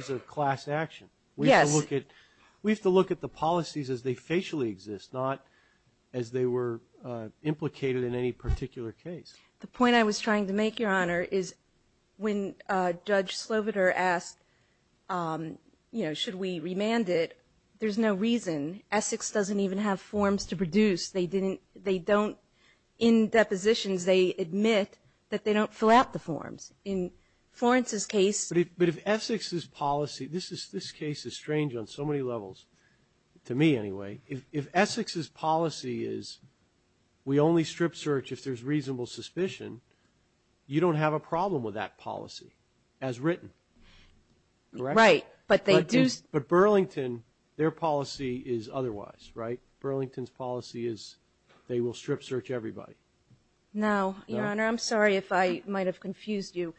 a class action. Yes. We have to look at the policies as they facially exist, not as they were implicated in any particular case. The point I was trying to make, Your Honor, is when Judge Sloviter asked, you know, should we remand it, there's no reason. Essex doesn't even have forms to produce. They didn't they don't. In depositions, they admit that they don't fill out the forms. In Florence's case ---- But if Essex's policy, this is this case is strange on so many levels, to me anyway. If Essex's policy is we only strip search if there's reasonable suspicion, you don't have a problem with that policy as written, correct? Right. But they do ---- But Burlington, their policy is otherwise, right? Burlington's policy is they will strip search everybody. No, Your Honor. I'm sorry if I might have confused you.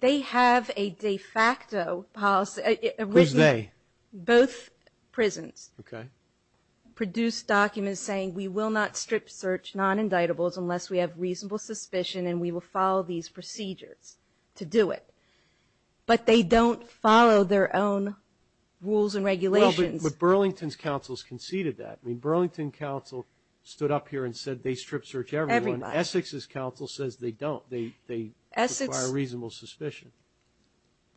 They have a de facto policy. Who's they? Both prisons. Okay. Produce documents saying we will not strip search non-indictables unless we have reasonable suspicion and we will follow these procedures to do it. But they don't follow their own rules and regulations. Well, but Burlington's counsels conceded that. I mean, Burlington counsel stood up here and said they strip search everyone. Everybody. Essex's counsel says they don't. They require reasonable suspicion.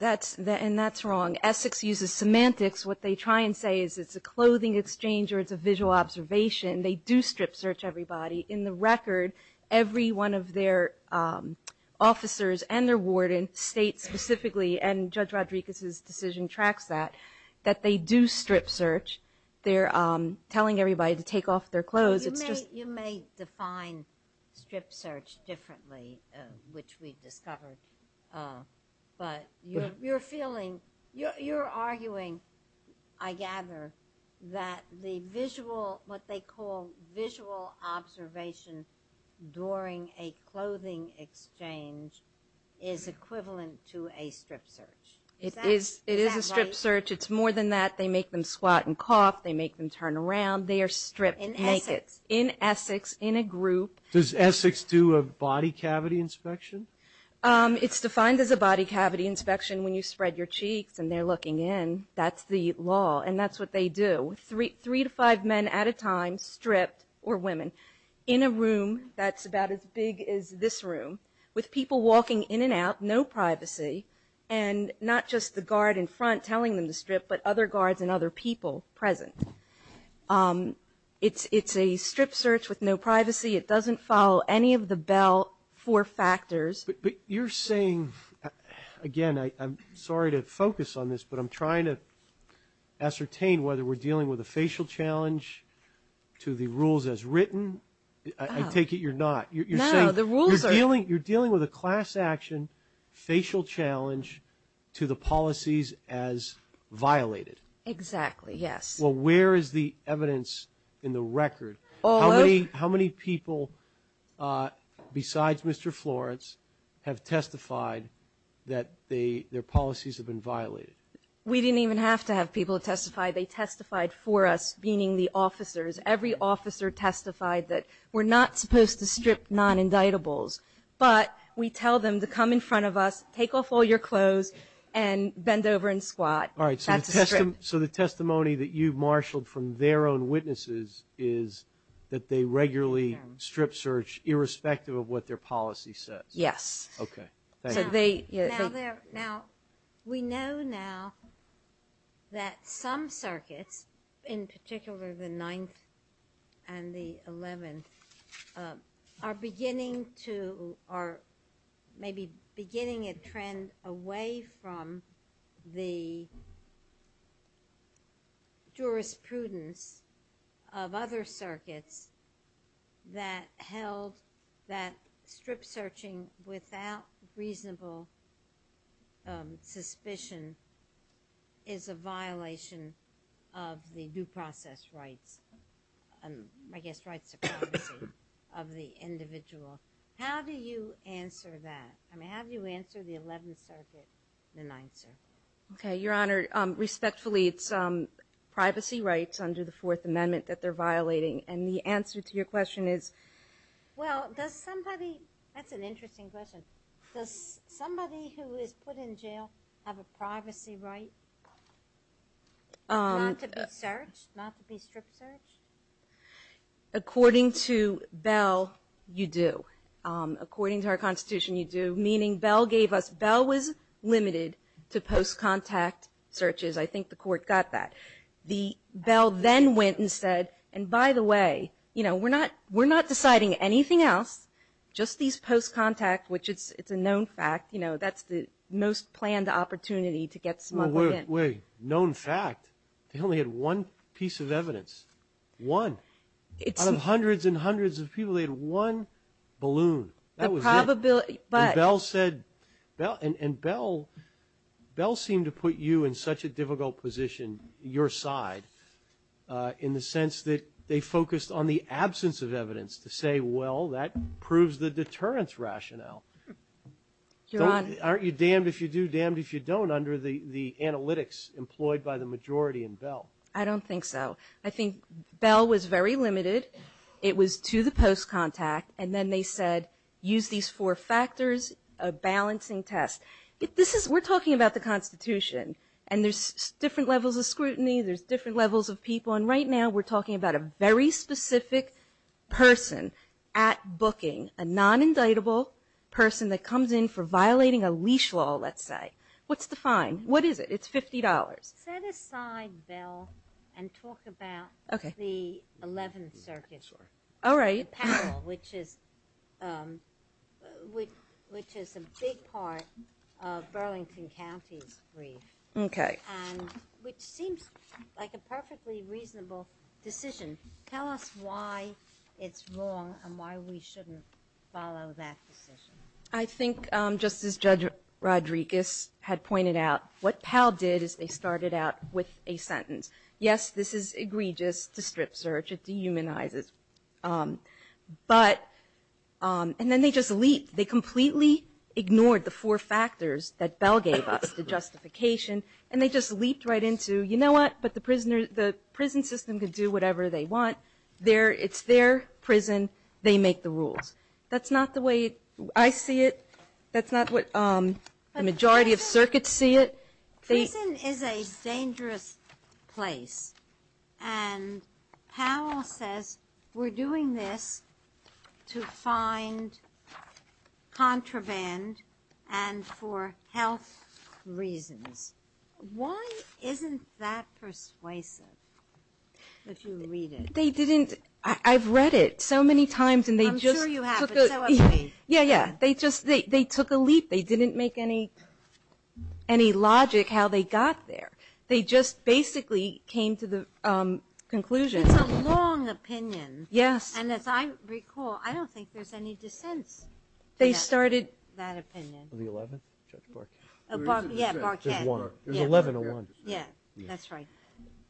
And that's wrong. Essex uses semantics. What they try and say is it's a clothing exchange or it's a visual observation. They do strip search everybody. In the record, every one of their officers and their warden states specifically, and Judge Rodriguez's decision tracks that, that they do strip search. They're telling everybody to take off their clothes. It's just ---- You may define strip search differently, which we've discovered. But you're feeling, you're arguing, I gather, that the visual, what they call visual observation during a clothing exchange is equivalent to a strip search. Is that right? It is a strip search. It's more than that. They make them squat and cough. They make them turn around. They are stripped naked. In Essex. In Essex, in a group. Does Essex do a body cavity inspection? It's defined as a body cavity inspection when you spread your cheeks and they're looking in. That's the law. And that's what they do. Three to five men at a time stripped, or women, in a room that's about as big as this room, with people walking in and out, no privacy, and not just the guard in front telling them to strip, but other guards and other people present. It's a strip search with no privacy. It doesn't follow any of the Bell four factors. But you're saying, again, I'm sorry to focus on this, but I'm trying to ascertain whether we're dealing with a facial challenge to the rules as written. I take it you're not. No, the rules are. You're dealing with a class action facial challenge to the policies as violated. Exactly, yes. Well, where is the evidence in the record? How many people, besides Mr. Florence, have testified that their policies have been violated? We didn't even have to have people testify. They testified for us, meaning the officers. Every officer testified that we're not supposed to strip non-indictables, but we tell them to come in front of us, take off all your clothes, and bend over and squat. That's a strip. So the testimony that you marshaled from their own witnesses is that they regularly strip search, irrespective of what their policy says? Yes. Okay. Now, we know now that some circuits, in particular the 9th and the 11th, are beginning to or maybe beginning a trend away from the jurisprudence of other circuits that held that strip searching without reasonable suspicion is a violation of the due process rights, I guess rights of privacy of the individual. How do you answer that? I mean, how do you answer the 11th Circuit and the 9th Circuit? Okay, Your Honor, respectfully, it's privacy rights under the Fourth Amendment that they're violating, and the answer to your question is? Well, does somebody – that's an interesting question. Does somebody who is put in jail have a privacy right not to be searched, not to be strip searched? According to Bell, you do. According to our Constitution, you do, meaning Bell gave us – Bell was limited to post-contact searches. I think the court got that. The – Bell then went and said, and by the way, you know, we're not deciding anything else, just these post-contact, which it's a known fact, you know, that's the most planned opportunity to get smuggled in. Wait, wait, known fact? They only had one piece of evidence, one. Out of hundreds and hundreds of people, they had one balloon. That was it. The probability – but – in the sense that they focused on the absence of evidence to say, well, that proves the deterrence rationale. Your Honor – Aren't you damned if you do, damned if you don't, under the analytics employed by the majority in Bell? I don't think so. I think Bell was very limited. It was to the post-contact, and then they said, use these four factors, a balancing test. This is – we're talking about the Constitution, and there's different levels of scrutiny. There's different levels of people. And right now, we're talking about a very specific person at booking, a non-indictable person that comes in for violating a leash law, let's say. What's the fine? What is it? It's $50. Set aside Bell and talk about the 11th Circuit. All right. The panel, which is a big part of Burlington County's brief. Okay. And which seems like a perfectly reasonable decision. Tell us why it's wrong and why we shouldn't follow that decision. I think, just as Judge Rodriguez had pointed out, what Pell did is they started out with a sentence. Yes, this is egregious to strip search. It dehumanizes. But – and then they just leaped. They completely ignored the four factors that Bell gave us, the justification, and they just leaped right into, you know what? But the prison system can do whatever they want. It's their prison. They make the rules. That's not the way I see it. That's not what the majority of circuits see it. Prison is a dangerous place. And Powell says we're doing this to find contraband and for health reasons. Why isn't that persuasive, if you read it? They didn't – I've read it so many times and they just took a – I'm sure you have, but so have we. Yeah, yeah. They just – they took a leap. They didn't make any logic how they got there. They just basically came to the conclusion. It's a long opinion. Yes. And as I recall, I don't think there's any dissents. They started – That opinion. The 11th? Judge Barkett. Yeah, Barkett. There's one. There's 11 or one. Yeah, that's right.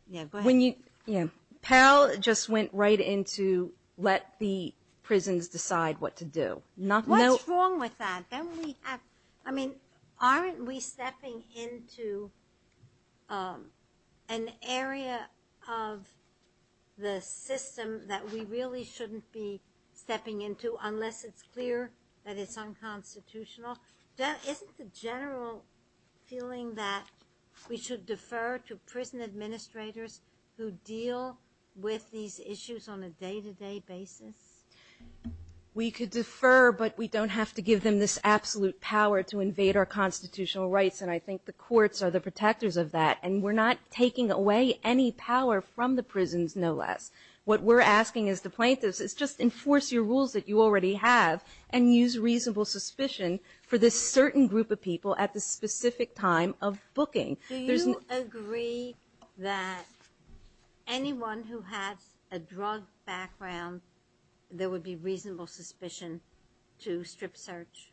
Yeah, go ahead. Powell just went right into let the prisons decide what to do. What's wrong with that? I mean, aren't we stepping into an area of the system that we really shouldn't be stepping into unless it's clear that it's unconstitutional? Isn't the general feeling that we should defer to prison administrators who deal with these issues on a day-to-day basis? We could defer, but we don't have to give them this absolute power to invade our constitutional rights, and I think the courts are the protectors of that. And we're not taking away any power from the prisons, no less. What we're asking as the plaintiffs is just enforce your rules that you already have and use reasonable suspicion for this certain group of people at this specific time of booking. Do you agree that anyone who has a drug background, there would be reasonable suspicion to strip search?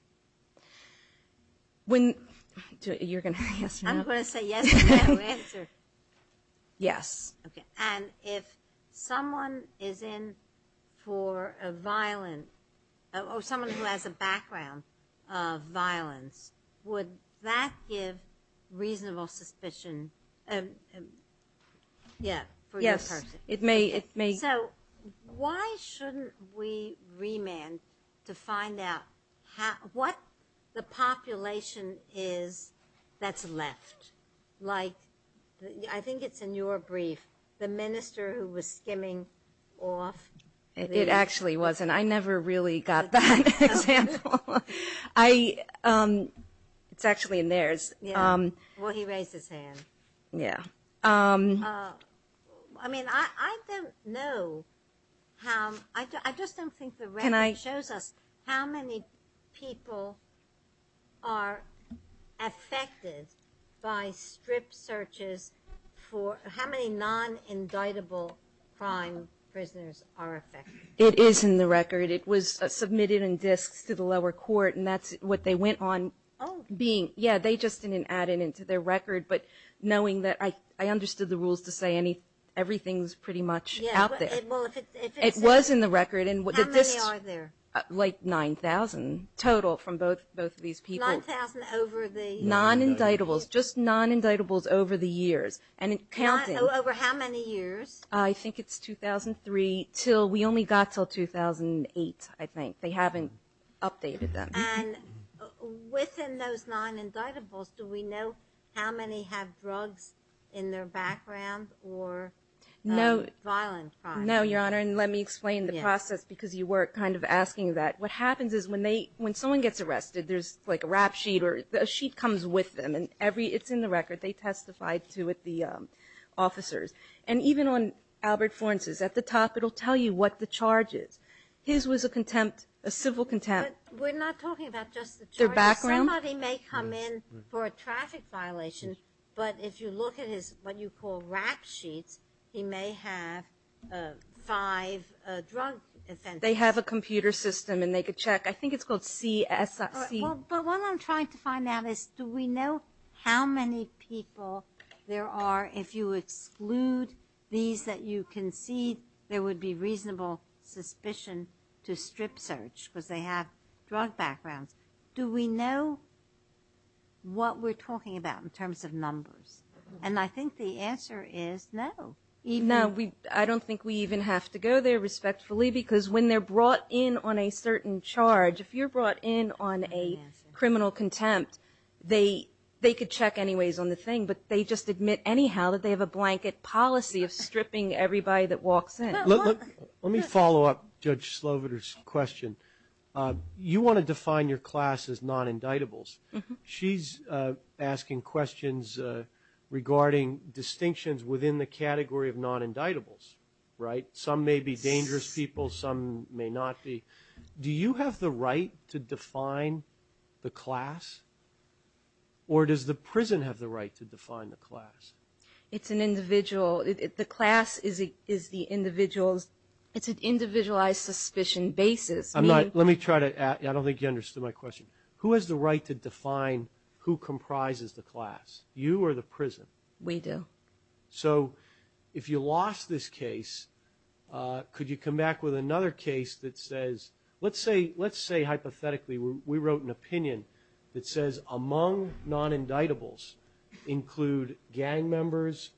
You're going to say yes or no? I'm going to say yes if you have an answer. Yes. Okay. And if someone is in for a violent – or someone who has a background of suspicion, yeah, for your person. Yes, it may. So why shouldn't we remand to find out what the population is that's left? Like I think it's in your brief, the minister who was skimming off. It actually wasn't. I never really got that example. It's actually in theirs. Yeah. Well, he raised his hand. Yeah. I mean, I don't know how – I just don't think the record shows us how many people are affected by strip searches for – how many non-indictable crime prisoners are affected. It is in the record. It was submitted in disks to the lower court, and that's what they went on being. Yeah, they just didn't add it into their record. But knowing that – I understood the rules to say everything's pretty much out there. Yeah. Well, if it's – It was in the record. How many are there? Like 9,000 total from both of these people. Nine thousand over the – Non-indictables. Just non-indictables over the years. And counting – Over how many years? I think it's 2003 till – we only got till 2008, I think. They haven't updated them. And within those non-indictables, do we know how many have drugs in their background or violent crime? No, Your Honor, and let me explain the process because you were kind of asking that. What happens is when they – when someone gets arrested, there's like a rap sheet or – a sheet comes with them, and every – it's in the record. They testified to it, the officers. And even on Albert Florence's, at the top, it'll tell you what the charge is. His was a contempt, a civil contempt. But we're not talking about just the charge. Their background? Somebody may come in for a traffic violation, but if you look at his – what you call rap sheets, he may have five drug offenses. They have a computer system, and they could check. I think it's called CSC. But what I'm trying to find out is do we know how many people there are. If you exclude these that you concede, there would be reasonable suspicion to have drug backgrounds. Do we know what we're talking about in terms of numbers? And I think the answer is no. No, I don't think we even have to go there respectfully because when they're brought in on a certain charge, if you're brought in on a criminal contempt, they could check anyways on the thing, but they just admit anyhow that they have a blanket policy of stripping everybody that walks in. Let me follow up Judge Sloviter's question. You want to define your class as non-indictables. She's asking questions regarding distinctions within the category of non-indictables, right? Some may be dangerous people. Some may not be. Do you have the right to define the class, or does the prison have the right to define the class? It's an individual. The class is the individual's. It's an individualized suspicion basis. I don't think you understood my question. Who has the right to define who comprises the class, you or the prison? We do. So if you lost this case, could you come back with another case that says, let's say hypothetically we wrote an opinion that says among non-indictables include gang members,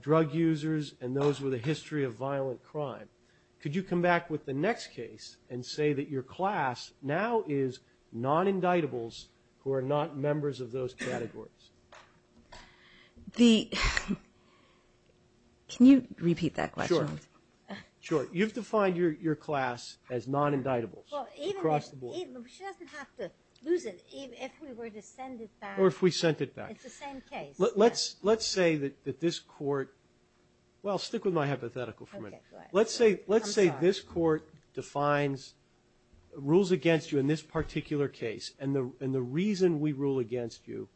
drug users, and those with a history of violent crime. Could you come back with the next case and say that your class now is non-indictables who are not members of those categories? Can you repeat that question? Sure. Sure. You've defined your class as non-indictables across the board. She doesn't have to lose it. Steve, if we were to send it back. Or if we sent it back. It's the same case. Let's say that this court – well, stick with my hypothetical for a minute. Okay, go ahead. I'm sorry. Let's say this court rules against you in this particular case, and the reason we rule against you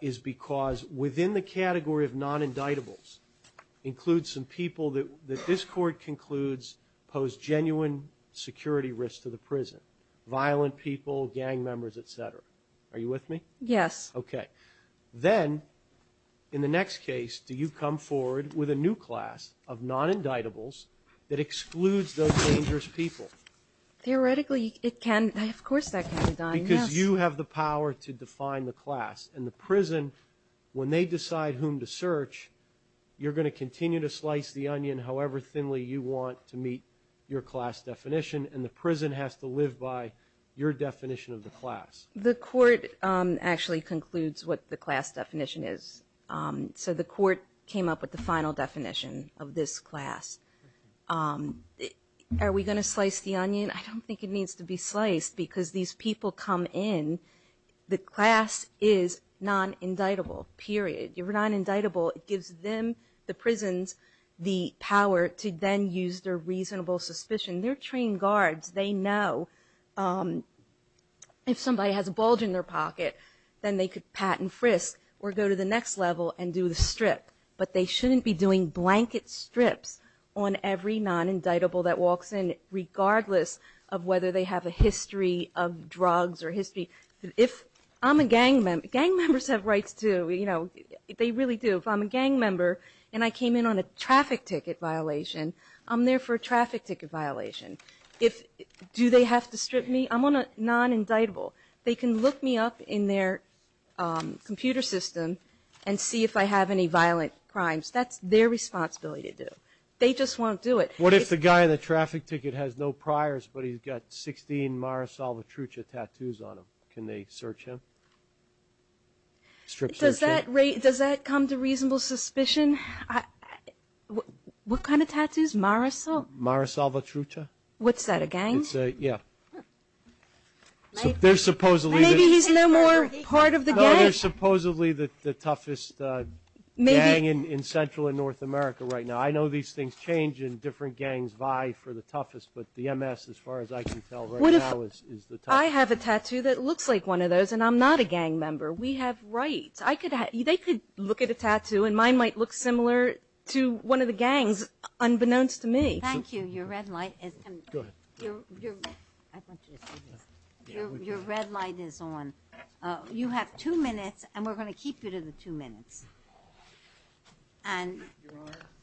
is because within the category of non-indictables includes some people that this court concludes pose genuine security risks to the prison, violent people, gang members, et cetera. Are you with me? Yes. Okay. Then, in the next case, do you come forward with a new class of non-indictables that excludes those dangerous people? Theoretically, it can. Of course that can, Don. Because you have the power to define the class. In the prison, when they decide whom to search, you're going to continue to slice the onion however thinly you want to meet your class definition, and the prison has to live by your definition of the class. The court actually concludes what the class definition is. So the court came up with the final definition of this class. Are we going to slice the onion? I don't think it needs to be sliced because these people come in. The class is non-indictable, period. You're non-indictable. It gives them, the prisons, the power to then use their reasonable suspicion. They're trained guards. They know if somebody has a bulge in their pocket, then they could pat and frisk or go to the next level and do the strip. But they shouldn't be doing blanket strips on every non-indictable that walks in, regardless of whether they have a history of drugs or history. If I'm a gang member, gang members have rights too. They really do. If I'm a gang member and I came in on a traffic ticket violation, I'm there for a traffic ticket violation. Do they have to strip me? I'm on a non-indictable. They can look me up in their computer system and see if I have any violent crimes. That's their responsibility to do. They just won't do it. What if the guy on the traffic ticket has no priors but he's got 16 Mara Salvatrucha tattoos on him? Can they search him? Strip search him. Does that come to reasonable suspicion? What kind of tattoos? Mara Salvatrucha? What's that, a gang? Yeah. Maybe he's no more part of the gang. No, they're supposedly the toughest gang in Central and North America right now. I know these things change and different gangs vie for the toughest, but the MS, as far as I can tell right now, is the toughest. If I have a tattoo that looks like one of those and I'm not a gang member, we have rights. They could look at a tattoo and mine might look similar to one of the gangs, unbeknownst to me. Thank you. Your red light is on. You have two minutes, and we're going to keep you to the two minutes.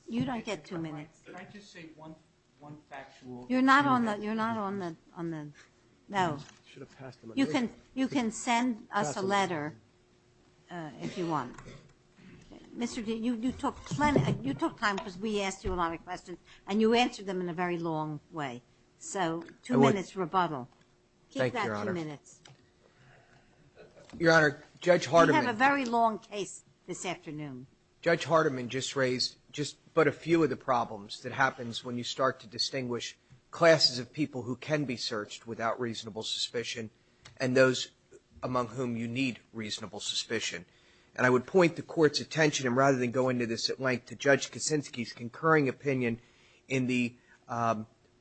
You don't get two minutes. Can I just say one factual thing? You're not on the no. You can send us a letter if you want. Mr. D., you took time because we asked you a lot of questions, and you answered them in a very long way. So two minutes rebuttal. Keep that two minutes. Thank you, Your Honor. We had a very long case this afternoon. Judge Hardiman just raised just but a few of the problems that happens when you start to distinguish classes of people who can be searched without reasonable suspicion and those among whom you need reasonable suspicion. And I would point the Court's attention, and rather than go into this at length, to Judge Kuczynski's concurring opinion in the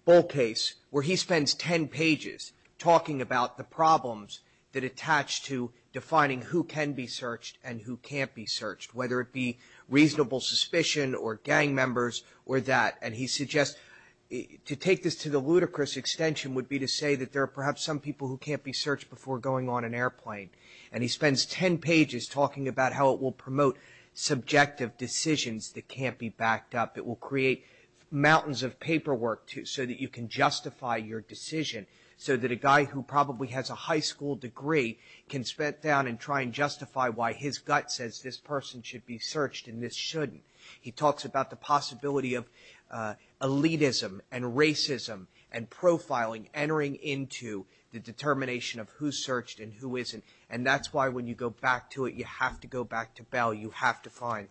Bull case, where he spends ten pages talking about the problems that attach to defining who can be searched and who can't be searched, whether it be reasonable suspicion or gang members or that. And he suggests to take this to the ludicrous extension would be to say that there are perhaps some people who can't be searched before going on an airplane. And he spends ten pages talking about how it will promote subjective decisions that can't be backed up. It will create mountains of paperwork so that you can justify your decision, so that a guy who probably has a high school degree can spit down and try and justify why his gut says this person should be searched and this shouldn't. He talks about the possibility of elitism and racism and profiling, entering into the determination of who's searched and who isn't. And that's why when you go back to it, you have to go back to Bell. You have to find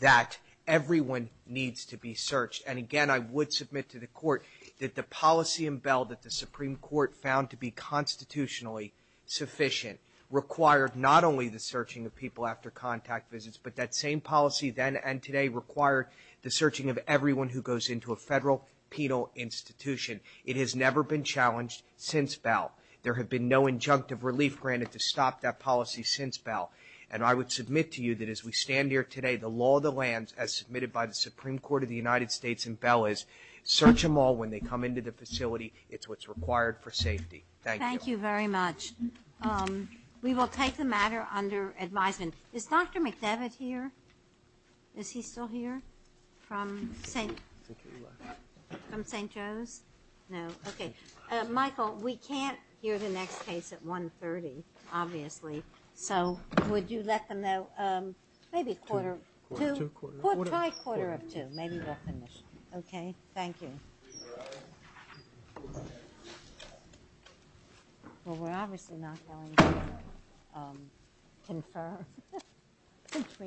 that everyone needs to be searched. And, again, I would submit to the Court that the policy in Bell that the Supreme Court found to be constitutionally sufficient required not only the searching of people after contact visits, but that same policy then and today required the searching of everyone who goes into a federal penal institution. It has never been challenged since Bell. There have been no injunctive relief granted to stop that policy since Bell. And I would submit to you that as we stand here today, the law of the land, as submitted by the Supreme Court of the United States in Bell, is search them all when they come into the facility. It's what's required for safety. Thank you. Thank you very much. We will take the matter under advisement. Is Dr. McDevitt here? Is he still here from St. Joe's? No. Okay. Michael, we can't hear the next case at 1.30, obviously, so would you let them know? Maybe a quarter of two. Try a quarter of two. Maybe we'll finish. Okay. Thank you. Well, we're obviously not going to confirm.